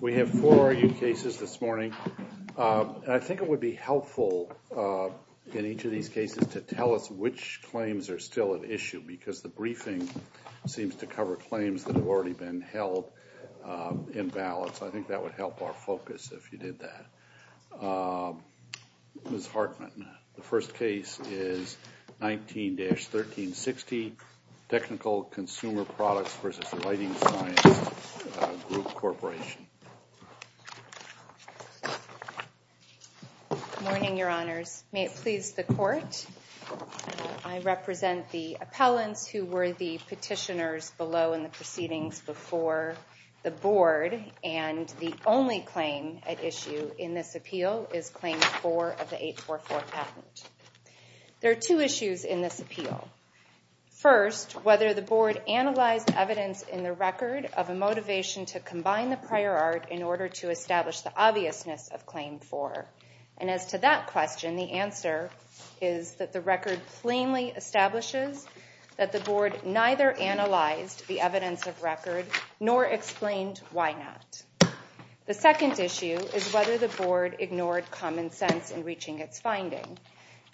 We have four new cases this morning. I think it would be helpful in each of these cases to tell us which claims are still at issue because the briefing seems to cover claims that have already been held in balance. I think that would help our focus if you did that. Ms. Hartman, the first case is 19-1360 Technical Consumer Products v. Lighting Science Group Corporation. Good morning, your honors. May it please the court, I represent the appellants who were the petitioners below in the proceedings before the board and the only claim at issue in this appeal is claim four of the 844 patent. There are two issues in this appeal. First, whether the board analyzed evidence in the record of a motivation to combine the prior art in order to establish the obviousness of claim four. And as to that question, the answer is that the record plainly establishes that the board neither analyzed the evidence of record nor explained why not. The second issue is whether the board ignored common sense in reaching its finding.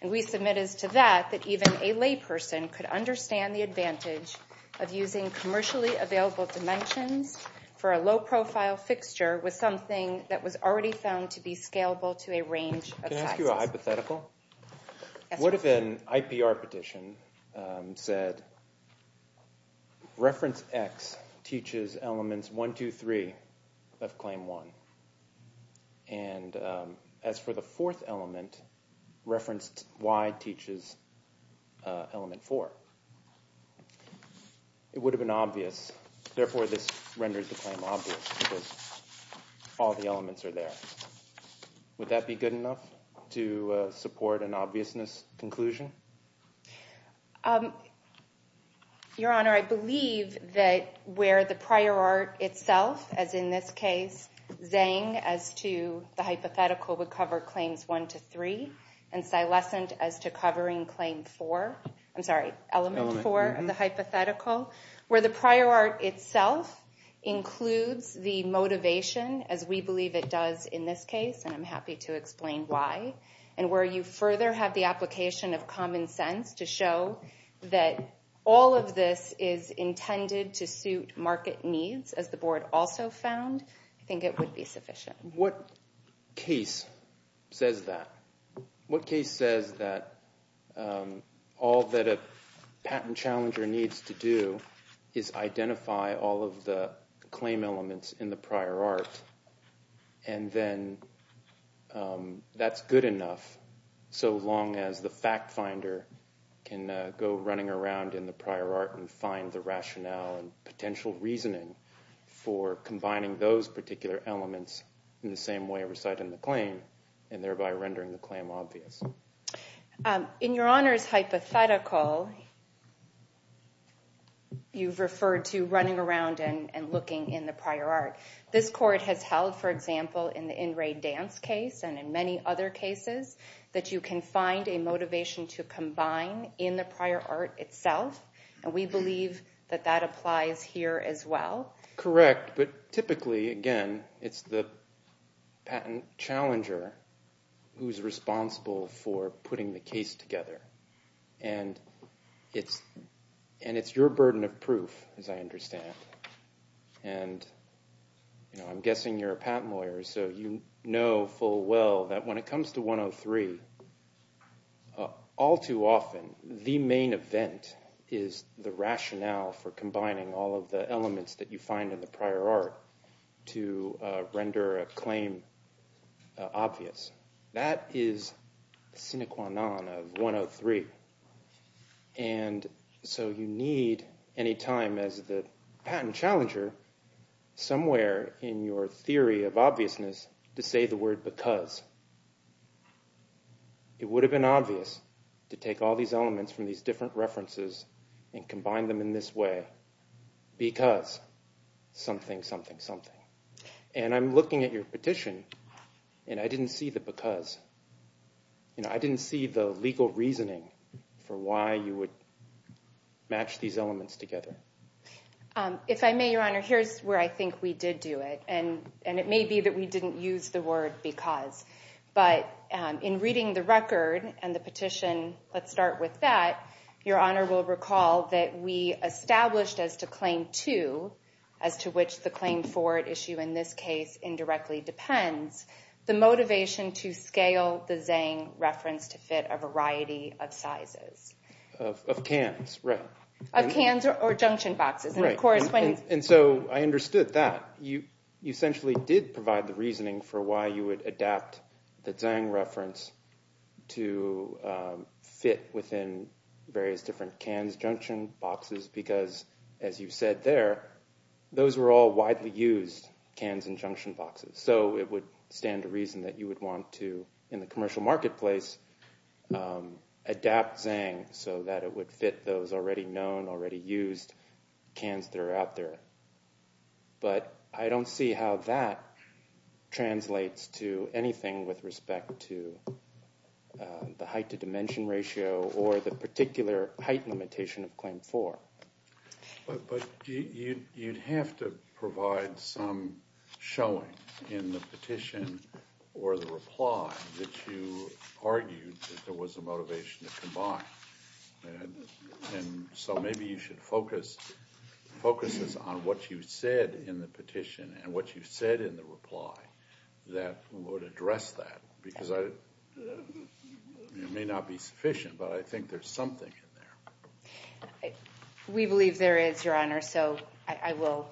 And we submit as to that that even a layperson could understand the advantage of using commercially available dimensions for a low-profile fixture with something that was already found to be scalable to a range of sizes. Can I ask you a hypothetical? What if an IPR petition said reference X teaches elements 1, 2, 3 of claim 1. And as for the fourth element, referenced Y teaches element 4. It would have been obvious. Therefore, this renders the claim obvious. All the elements are there. Would that be good enough to support an obviousness conclusion? Your Honor, I believe that where the prior art itself, as in this case, Zeng as to the hypothetical would cover claims 1 to 3, and Silescent as to covering claim 4, I'm sorry, element 4 of the hypothetical, where the prior art itself includes the motivation as we believe it does in this case, and I'm of common sense to show that all of this is intended to suit market needs, as the board also found, I think it would be sufficient. What case says that? What case says that all that a patent challenger needs to do is identify all of the claim elements in the prior art, and then that's good enough so long as the fact finder can go running around in the prior art and find the rationale and potential reasoning for combining those particular elements in the same way reciting the claim, and thereby rendering the claim obvious. In Your Honor's hypothetical, you've referred to running around and looking in the prior art. This court has held, for example, in the in-raid dance case and in many other cases, that you can find a motivation to combine in the prior art itself, and we believe that that applies here as well. Correct, but typically, again, it's the patent challenger who's responsible for putting the case together, and it's your burden of proof, as I understand, and I'm guessing you're a patent lawyer, so you know full well that when it comes to 103, all too often, the main event is the rationale for combining all of the elements that you find in the prior art to render a claim obvious. That is sine qua non of 103, and so you need, any time as the patent challenger, somewhere in your theory of obviousness to say the word because. It would have been obvious to take all these elements from these something, and I'm looking at your petition, and I didn't see the because. You know, I didn't see the legal reasoning for why you would match these elements together. If I may, Your Honor, here's where I think we did do it, and and it may be that we didn't use the word because, but in reading the record and the petition, let's start with that, Your Honor will recall that we case indirectly depends, the motivation to scale the Zhang reference to fit a variety of sizes. Of cans, right. Of cans or junction boxes, and of course. And so I understood that. You essentially did provide the reasoning for why you would adapt the Zhang reference to fit within various different cans, junction boxes, because, as you said there, those were all widely used cans and junction boxes. So it would stand to reason that you would want to, in the commercial marketplace, adapt Zhang so that it would fit those already known, already used cans that are out there. But I don't see how that translates to anything with respect to the height to dimension ratio, or the particular height limitation of claim four. But you'd have to provide some showing in the petition or the reply that you argued that there was a motivation to combine. And so maybe you should focus, focus this on what you said in the petition and what you said in the reply that would address that, because I, it may not be sufficient, but I think there's something in there. We believe there is, Your Honor, so I will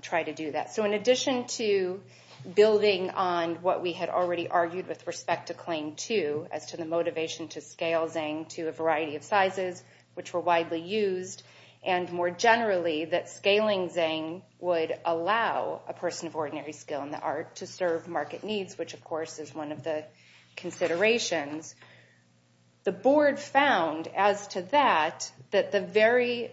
try to do that. So in addition to building on what we had already argued with respect to claim two, as to the motivation to scale Zhang to a variety of sizes which were widely used, and more generally that scaling Zhang would allow a person of ordinary skill in the art to serve market needs, which of course is one of the considerations, the board found as to that, that the very,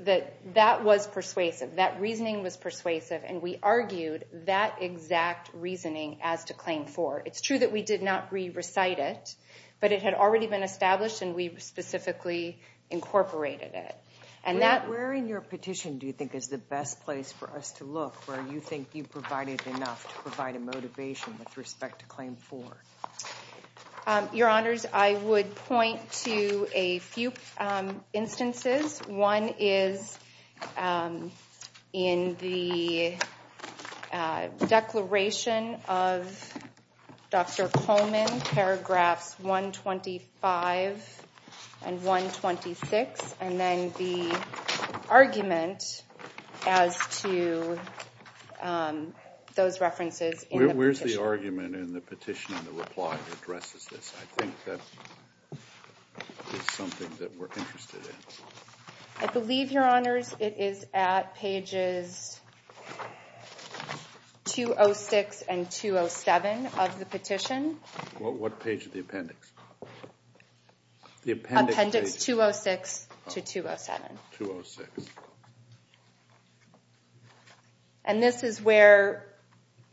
that that was persuasive, that reasoning was persuasive, and we argued that exact reasoning as to claim four. It's true that we did not re-recite it, but it had already been established and we specifically incorporated it. And that... Where in your petition do you think is the best place for us to look where you think you Your Honors, I would point to a few instances. One is in the declaration of Dr. Coleman, paragraphs 125 and 126, and then the argument as to those references. Where's the argument in the petition and the reply that addresses this? I think that is something that we're interested in. I believe, Your Honors, it is at pages 206 and 207 of the petition. What page of the appendix? Appendix 206 to 207. And this is where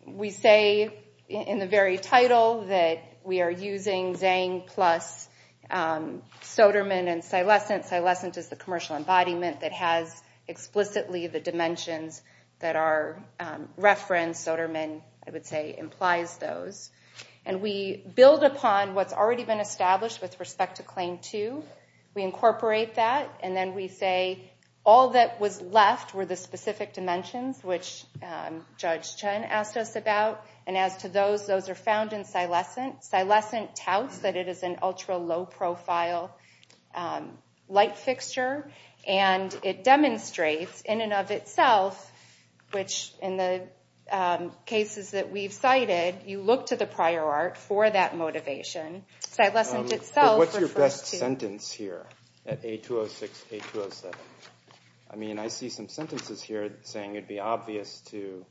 we say in the very title that we are using Zhang plus Soderman and Silescent. Silescent is the commercial embodiment that has explicitly the dimensions that are built upon what's already been established with respect to claim two. We incorporate that and then we say all that was left were the specific dimensions, which Judge Chen asked us about. And as to those, those are found in Silescent. Silescent touts that it is an ultra low-profile light fixture and it demonstrates in and of itself, which in the cases that we've cited, you look to prior art for that motivation. Silescent itself refers to... What's your best sentence here at A206, A207? I mean, I see some sentences here saying it'd be obvious to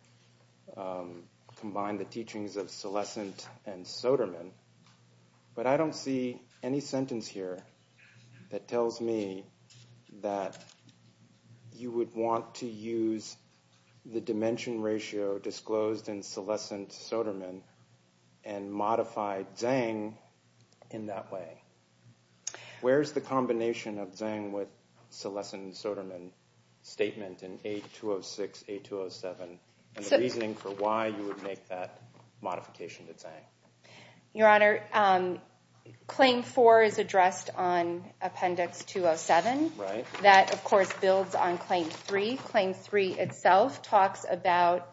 combine the teachings of Silescent and Soderman, but I don't see any sentence here that tells me that you would want to use the dimension ratio disclosed in Silescent and Soderman and modify Zhang in that way. Where's the combination of Zhang with Silescent and Soderman statement in A206, A207, and the reasoning for why you would make that modification to Zhang? Your Honor, claim four is addressed on appendix 207. That, of course, builds on claim three. Claim three itself talks about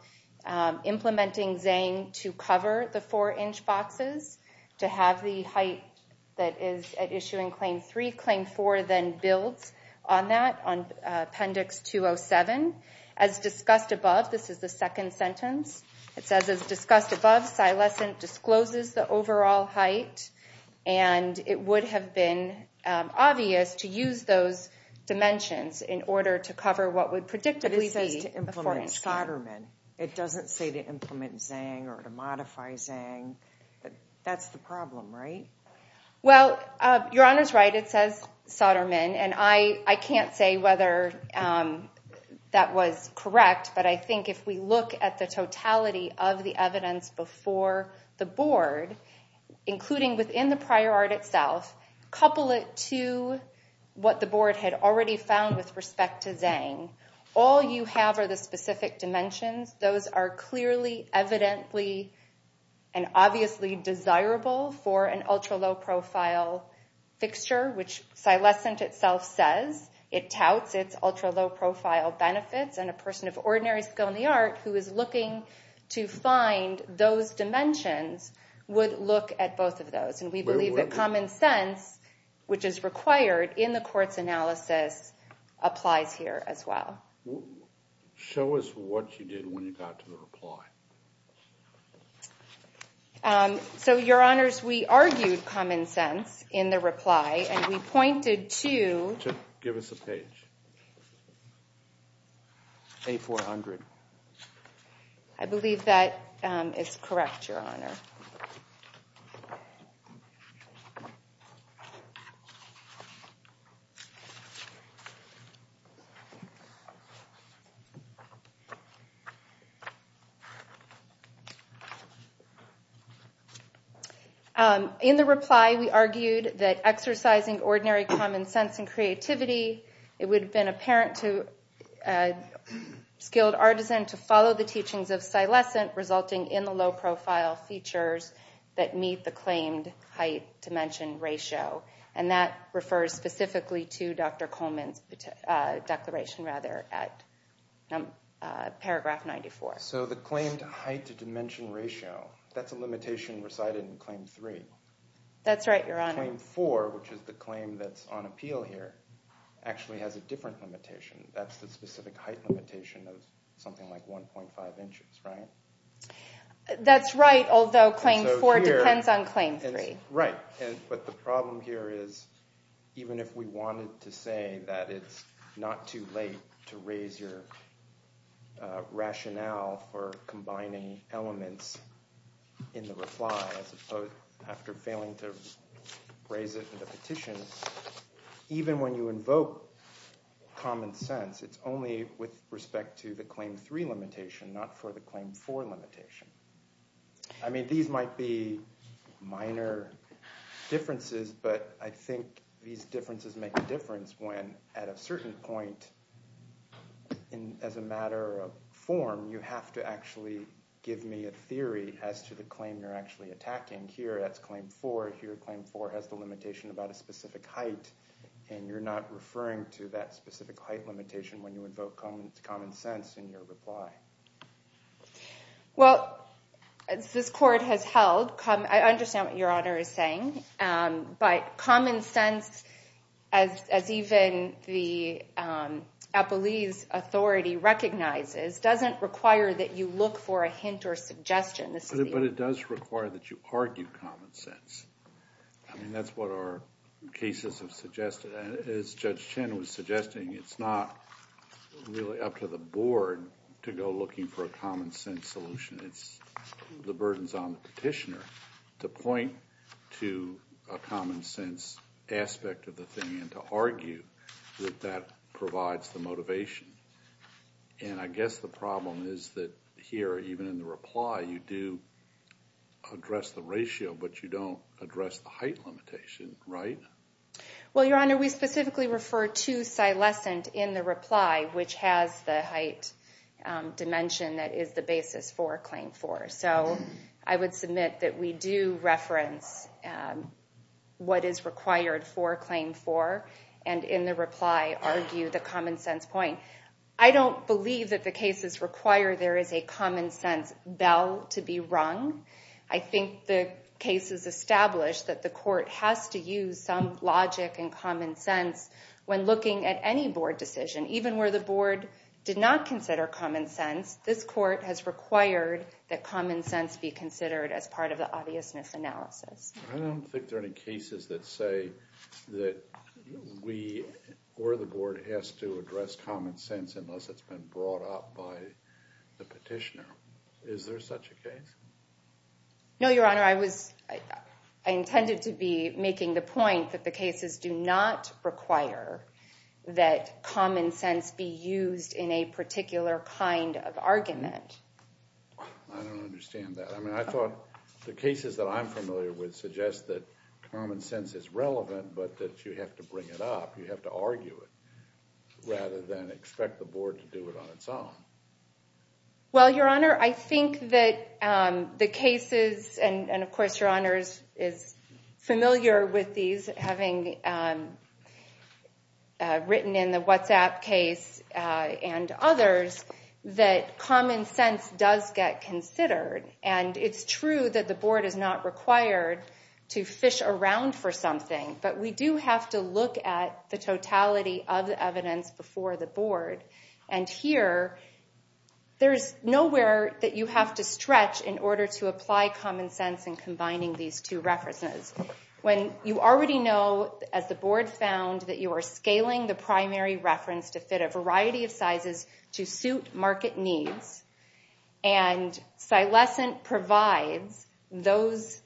implementing Zhang to cover the four-inch boxes, to have the height that is at issue in claim three. Claim four then builds on that on appendix 207. As discussed above, this is the second sentence, it says, as discussed above, Silescent discloses the overall height and it would have been obvious to use those dimensions in order to cover what would predictably be a four-inch box. It says to implement Soderman. It doesn't say to implement Zhang or to modify Zhang. That's the problem, right? Well, Your Honor's right. It says Soderman and I can't say whether that was correct, but I think if we look at the totality of the evidence before the board, including within the prior art itself, couple it to what the board had already found with respect to Zhang. All you have are the specific dimensions. Those are clearly, evidently, and obviously desirable for an ultra-low-profile fixture, which Silescent itself says. It touts its ultra-low-profile benefits and a person of ordinary skill in the art who is looking to find those dimensions would look at both of those. And we believe that in the court's analysis applies here as well. Show us what you did when you got to the reply. So, Your Honors, we argued common sense in the reply and we pointed to... Give us a page. A400. I believe that is correct, Your Honor. In the reply, we argued that exercising ordinary common sense and creativity, it would have been apparent to a skilled artisan to follow the teachings of practitioners that meet the claimed height-dimension ratio. And that refers specifically to Dr. Coleman's declaration, rather, at paragraph 94. So the claimed height-dimension ratio, that's a limitation recited in Claim 3. That's right, Your Honor. Claim 4, which is the claim that's on appeal here, actually has a different limitation. That's the specific height limitation of something like 1.5 inches, right? That's right, although Claim 4 depends on Claim 3. Right, but the problem here is, even if we wanted to say that it's not too late to raise your rationale for combining elements in the reply, as opposed, after failing to raise it in the petition, even when you invoke common sense, it's only with respect to the Claim 4 limitation. I mean, these might be minor differences, but I think these differences make a difference when, at a certain point, as a matter of form, you have to actually give me a theory as to the claim you're actually attacking. Here, that's Claim 4. Here, Claim 4 has the limitation about a specific height, and you're not referring to that specific height limitation when you invoke common sense in your reply. Well, as this Court has held, I understand what Your Honor is saying, but common sense, as even the Appellee's Authority recognizes, doesn't require that you look for a hint or suggestion. But it does require that you argue common sense. I mean, that's what our cases have been suggesting. It's not really up to the Board to go looking for a common sense solution. It's the burden's on the petitioner to point to a common sense aspect of the thing and to argue that that provides the motivation. And I guess the problem is that here, even in the reply, you do address the ratio, but you don't address the height limitation, right? Well, Your Honor, we specifically refer to Silescent in the reply, which has the height dimension that is the basis for Claim 4. So I would submit that we do reference what is required for Claim 4, and in the reply, argue the common sense point. I don't believe that the cases require there is a common sense bell to be rung. I think the case is established that the court has to use some logic and common sense when looking at any board decision. Even where the board did not consider common sense, this court has required that common sense be considered as part of the obviousness analysis. I don't think there are any cases that say that we or the board has to address common sense unless it's been brought up by the petitioner. Is there such a case? No, Your Honor, I was intended to be making the point that the cases do not require that common sense be used in a particular kind of argument. I don't understand that. I mean, I thought the cases that I'm familiar with suggest that common sense is relevant, but that you have to bring it up, you have to argue it, rather than expect the board to do it on its own. Well, Your Honor, I think that the cases, and of course Your Honor is familiar with these, having written in the WhatsApp case and others, that common sense does get considered. And it's true that the board is not required to fish around for something, but we do have to look at the totality of the evidence before the board. And here, there's nowhere that you have to stretch in order to apply common sense in combining these two references. When you already know, as the board found, that you are scaling the primary reference to fit a variety of sizes to suit market needs, and Cilescent provides those,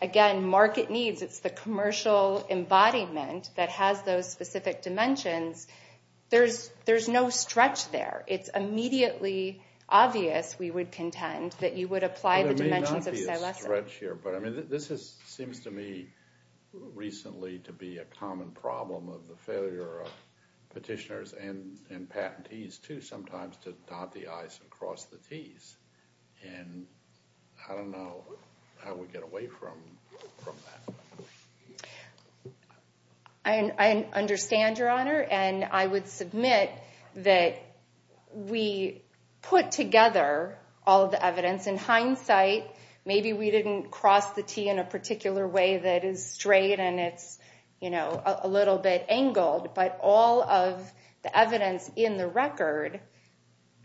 again, market needs, it's the commercial embodiment that has those specific dimensions, there's no stretch there. It's immediately obvious, we would contend, that you would apply the dimensions of Cilescent. Well, there may not be a stretch here, but I mean, this seems to me recently to be a common problem of the failure of petitioners and patentees, too, sometimes, to dot the I's and cross the T's. And I don't know how we get away from that. I understand, Your Honor, and I would submit that we put together all the evidence. In hindsight, maybe we didn't cross the T in a particular way that is straight and it's, you know, a little bit angled, but all of the evidence in the record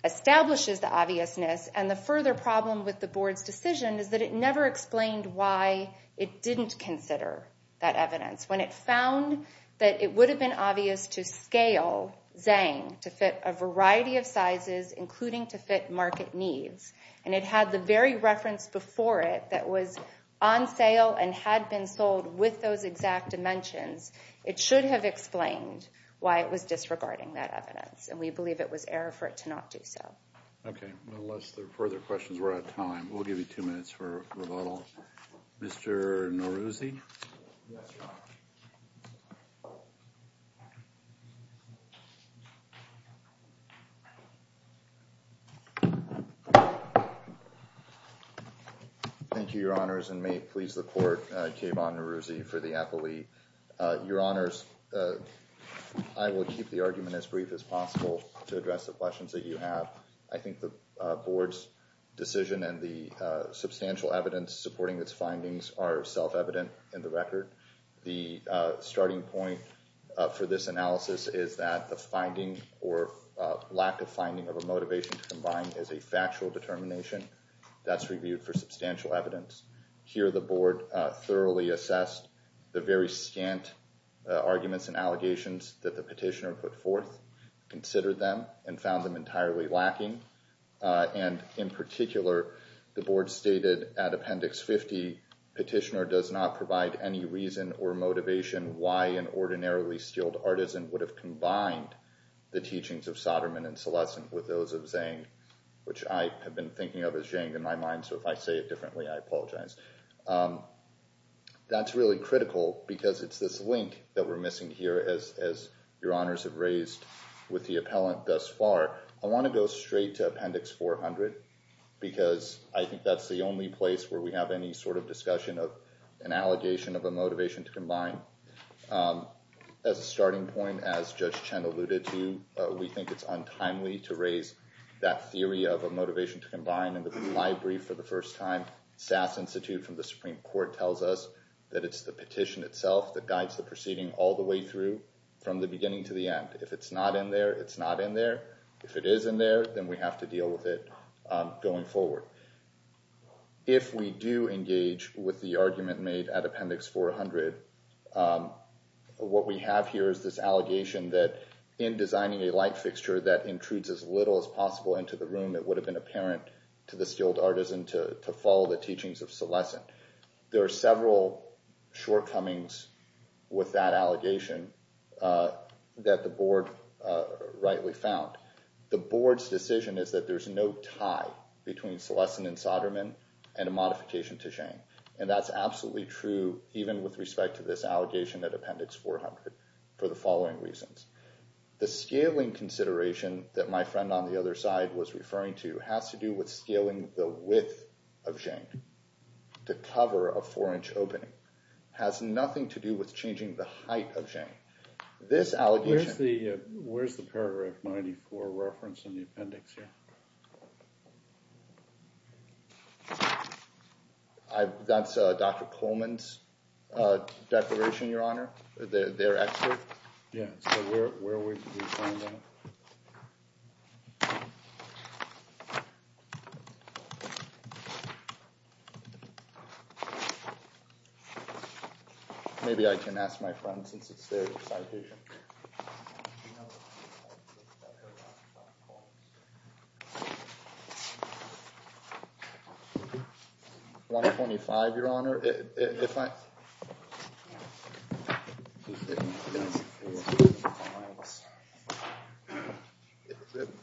establishes the obviousness. And the further problem with the board's decision is that it never explained why it didn't consider that evidence. When it found that it would have been obvious to scale Zang to fit a variety of sizes, including to fit market needs, and it had the very reference before it that was on sale and had been sold with those exact dimensions, it should have explained why it was disregarding that evidence. And we believe it was error for it to not do so. Okay, unless there are further questions, we're out of time. We'll give you two minutes for rebuttal. Mr. Neruzzi? Thank you, Your Honors, and may it please the Court, Kayvon Neruzzi for the appellee. Your Honors, I will keep the argument as brief as possible to address the questions that you have. I think the board's decision and the substantial evidence supporting its findings are self-evident in the record. The starting point for this analysis is that the finding or lack of finding of a motivation to combine is a factual determination that's reviewed for substantial evidence. Here the board thoroughly assessed the very scant arguments and allegations that the petitioner put forth, considered them, and found them entirely lacking. And in particular, the board stated at Appendix 50, Petitioner does not provide any reason or motivation why an ordinarily skilled artisan would have combined the teachings of Soderman and Solescent with those of Zhang, which I have been thinking of as Zhang in my mind, so if I say it differently, I apologize. That's really critical because it's this link that we're missing here as Your Honors have raised with the appellant thus far. I want to go straight to Appendix 400 because I think that's the only place where we have any sort of discussion of an allegation of a motivation to combine. As a starting point, as Judge Chen alluded to, we think it's untimely to raise that theory of a motivation to combine in the reply brief for the first time. SAS Institute from the Supreme Court tells us that it's the petition itself that guides the proceeding all the way through from the beginning to the end. If it's not in there, it's not in there. If it is in there, then we have to deal with it going forward. If we do engage with the argument made at Appendix 400, what we have here is this allegation that in designing a light into the room, it would have been apparent to the skilled artisan to follow the teachings of Celestin. There are several shortcomings with that allegation that the Board rightly found. The Board's decision is that there's no tie between Celestin and Soderman and a modification to Zhang, and that's absolutely true even with respect to this allegation at Appendix 400 for the following reasons. The scaling consideration that my friend on the other side was referring to has to do with scaling the width of Zhang to cover a four-inch opening. It has nothing to do with changing the height of Zhang. This allegation- Where's the paragraph 94 reference in the appendix here? That's Dr. Coleman's declaration, Your Honor, their excerpt. Maybe I can ask my friend since it's their citation. 125, Your Honor.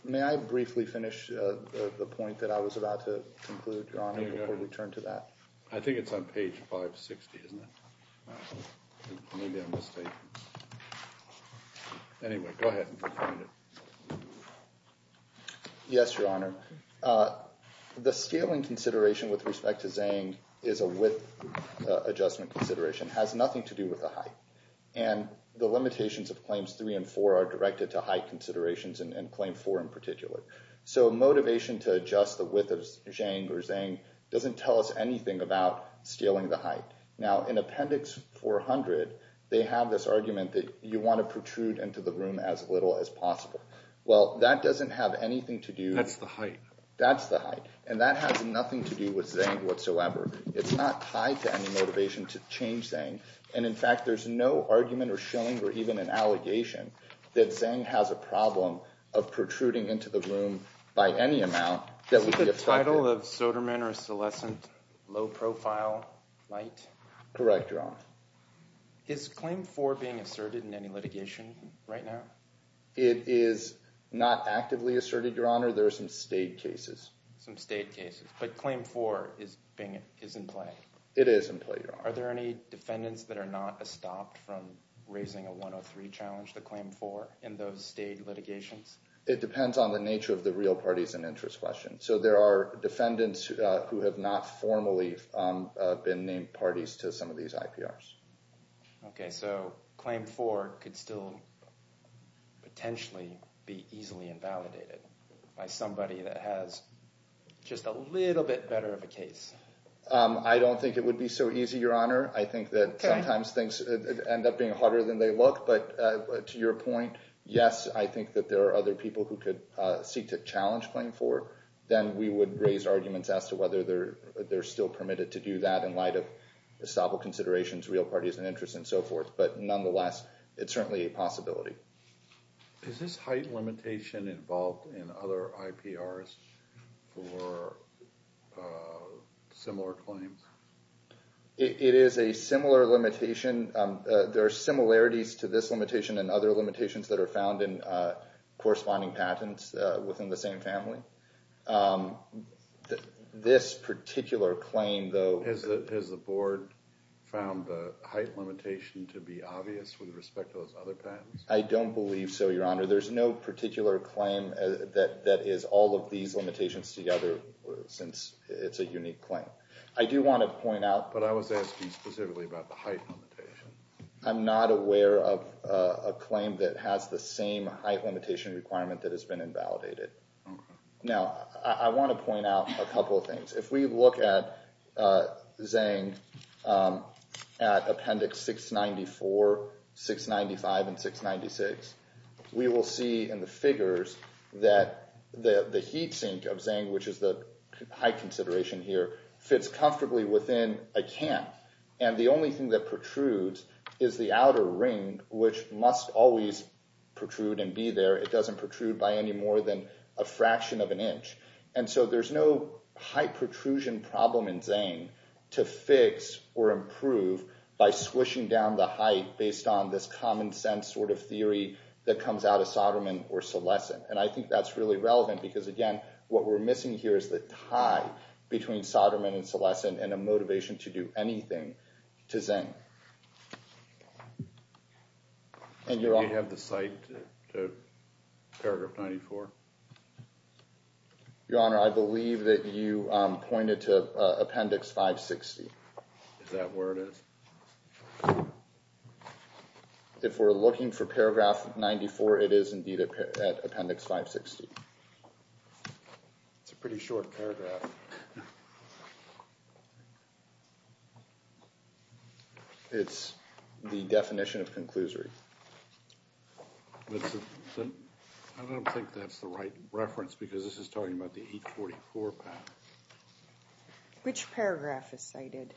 May I briefly finish the point that I was about to conclude, Your Honor, before we turn to that? I think it's on page 560, isn't it? Maybe I'm mistaken. Anyway, go ahead and find it. Yes, Your Honor. The scaling consideration with respect to Zhang is a width adjustment consideration. It has nothing to do with the height. And the limitations of Claims 3 and 4 are directed to height considerations and Claim 4 in particular. So motivation to adjust the width of Zhang doesn't tell us anything about scaling the height. Now, in Appendix 400, they have this argument that you want to protrude into the room as little as possible. Well, that doesn't have anything to do- That's the height. That's the height. And that has nothing to do with Zhang whatsoever. It's not tied to any motivation to change Zhang. And in fact, there's no argument or showing or even an allegation that Zhang has a problem of protruding into the room by any amount that would be- Is it the title of Soderman or Selescent, Low Profile Light? Correct, Your Honor. Is Claim 4 being asserted in any litigation right now? It is not actively asserted, Your Honor. There are some state cases. Some state cases. But Claim 4 is in play? It is in play, Your Honor. Are there any defendants that are not stopped from raising a 103 challenge to Claim 4 in those state litigations? It depends on the nature of the real parties and interest question. So there are defendants who have not formally been named parties to some of these IPRs. Okay, so Claim 4 could still potentially be easily invalidated by somebody that has just a little bit better of a case. I don't think it would be so easy, Your Honor. I think that sometimes things end up being harder than they look. But to your point, yes, I think that there are other people who seek to challenge Claim 4. Then we would raise arguments as to whether they're still permitted to do that in light of estoppel considerations, real parties and interest, and so forth. But nonetheless, it's certainly a possibility. Is this height limitation involved in other IPRs for similar claims? It is a similar limitation. There are similarities to this limitation and other patents within the same family. This particular claim, though— Has the Board found the height limitation to be obvious with respect to those other patents? I don't believe so, Your Honor. There's no particular claim that is all of these limitations together, since it's a unique claim. I do want to point out— But I was asking specifically about the height limitation. I'm not aware of a claim that has the same height limitation requirement that has been invalidated. Now, I want to point out a couple of things. If we look at Zang at Appendix 694, 695, and 696, we will see in the figures that the heat sink of Zang, which is the height consideration here, fits comfortably within a can. And the only thing that protrudes is the outer ring, which must always protrude and be there. It doesn't protrude by any more than a fraction of an inch. And so there's no height protrusion problem in Zang to fix or improve by squishing down the height based on this common sense sort of theory that comes out of Soderman or Solescent. And I think that's really relevant because, again, what we're missing here is the tie between Soderman and Solescent and a motivation to do anything to Zang. And you're— Do we have the site to Paragraph 94? Your Honor, I believe that you pointed to Appendix 560. Is that where it is? If we're looking for Paragraph 94, it is indeed at Appendix 560. It's a pretty short paragraph. It's the definition of conclusory. I don't think that's the right reference because this is talking about the 844 path. Which paragraph is cited?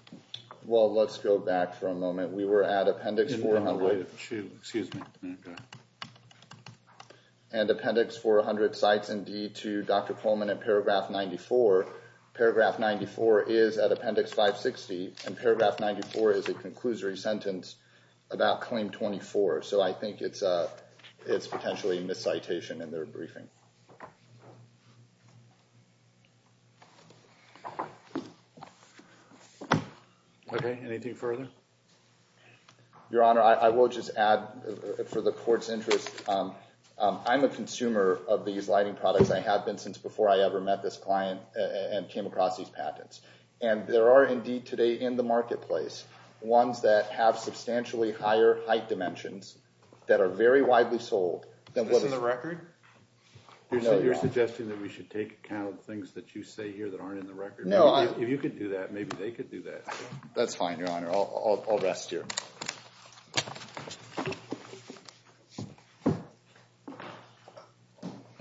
Well, let's go back for a moment. We were at Appendix 400— In Paragraph 2. Excuse me. Okay. And Appendix 400 cites indeed to Dr. Pullman at Paragraph 94. Paragraph 94 is at Appendix 560. And Paragraph 94 is a conclusory sentence about Claim 24. So I think it's potentially a miscitation in their briefing. Okay. Anything further? Your Honor, I will just add for the Court's interest, I'm a consumer of these lighting products. I have been since before I ever met this client and came across these patents. And there are indeed today in the marketplace ones that have substantially higher height dimensions that are very widely sold. Is this in the record? You're suggesting that we should take account of things that you say here that aren't in the record? No, I— If you could do that, maybe they could do that. That's fine, Your Honor. I'll rest here.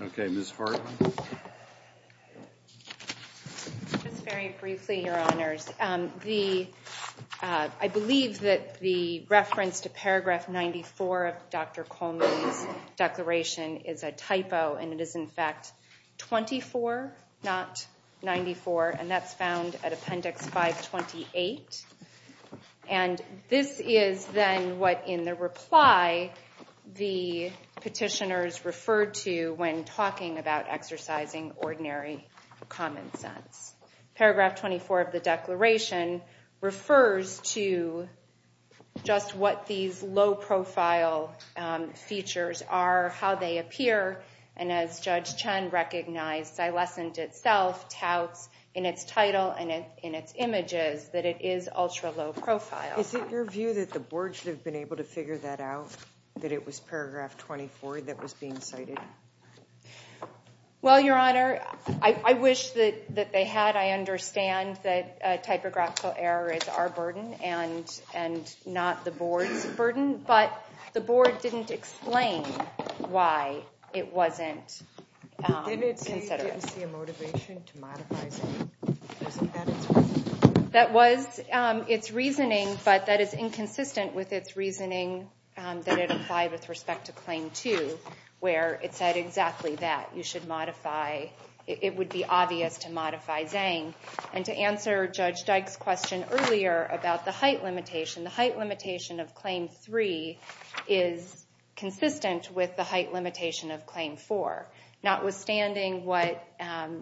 Okay. Ms. Ford? Just very briefly, Your Honors. I believe that the reference to Paragraph 94 of Dr. Coleman's declaration is a typo. And it is in fact 24, not 94. And that's found at Appendix 528. And this is then what in the reply the petitioners referred to when talking about exercising ordinary common sense. Paragraph 24 of the declaration refers to just what these low-profile features are, how they appear. And as Judge Chen recognized, Xylescent itself touts in its title and in its images that it is ultra-low profile. Is it your view that the Board should have been able to figure that out, that it was Paragraph 24 that was being cited? Well, Your Honor, I wish that they had. I understand that a typographical error is our burden and not the Board's burden. But the Board didn't explain why it wasn't considered. Did it say it didn't see a motivation to modify Zhang? That was its reasoning. But that is inconsistent with its reasoning that it applied with respect to Claim 2, where it said exactly that. It would be obvious to modify Zhang. And to answer Judge Dyke's question earlier about the height limitation, the height limitation of Claim 3 is consistent with the height limitation of Claim 4, notwithstanding what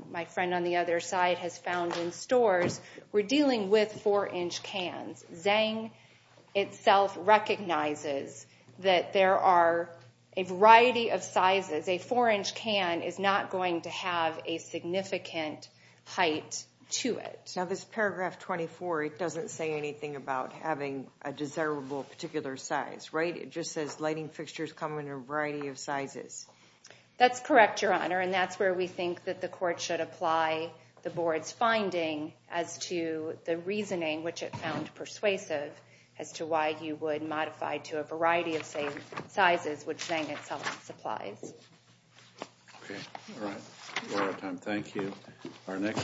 my friend on the other side has found in stores. We're dealing with 4-inch cans. Zhang itself recognizes that there are a variety of sizes. A 4-inch can is not going to have a significant height to it. Now, this Paragraph 24, it doesn't say anything about having a desirable particular size, right? It just says lighting fixtures come in a variety of sizes. That's correct, Your Honor. And that's where we think that the Court should apply the Board's finding as to the reasoning, which it found persuasive, as to why you would modify to a variety of, say, sizes, which Zhang itself supplies. Okay. All right. We're out of time. Thank you. Our next—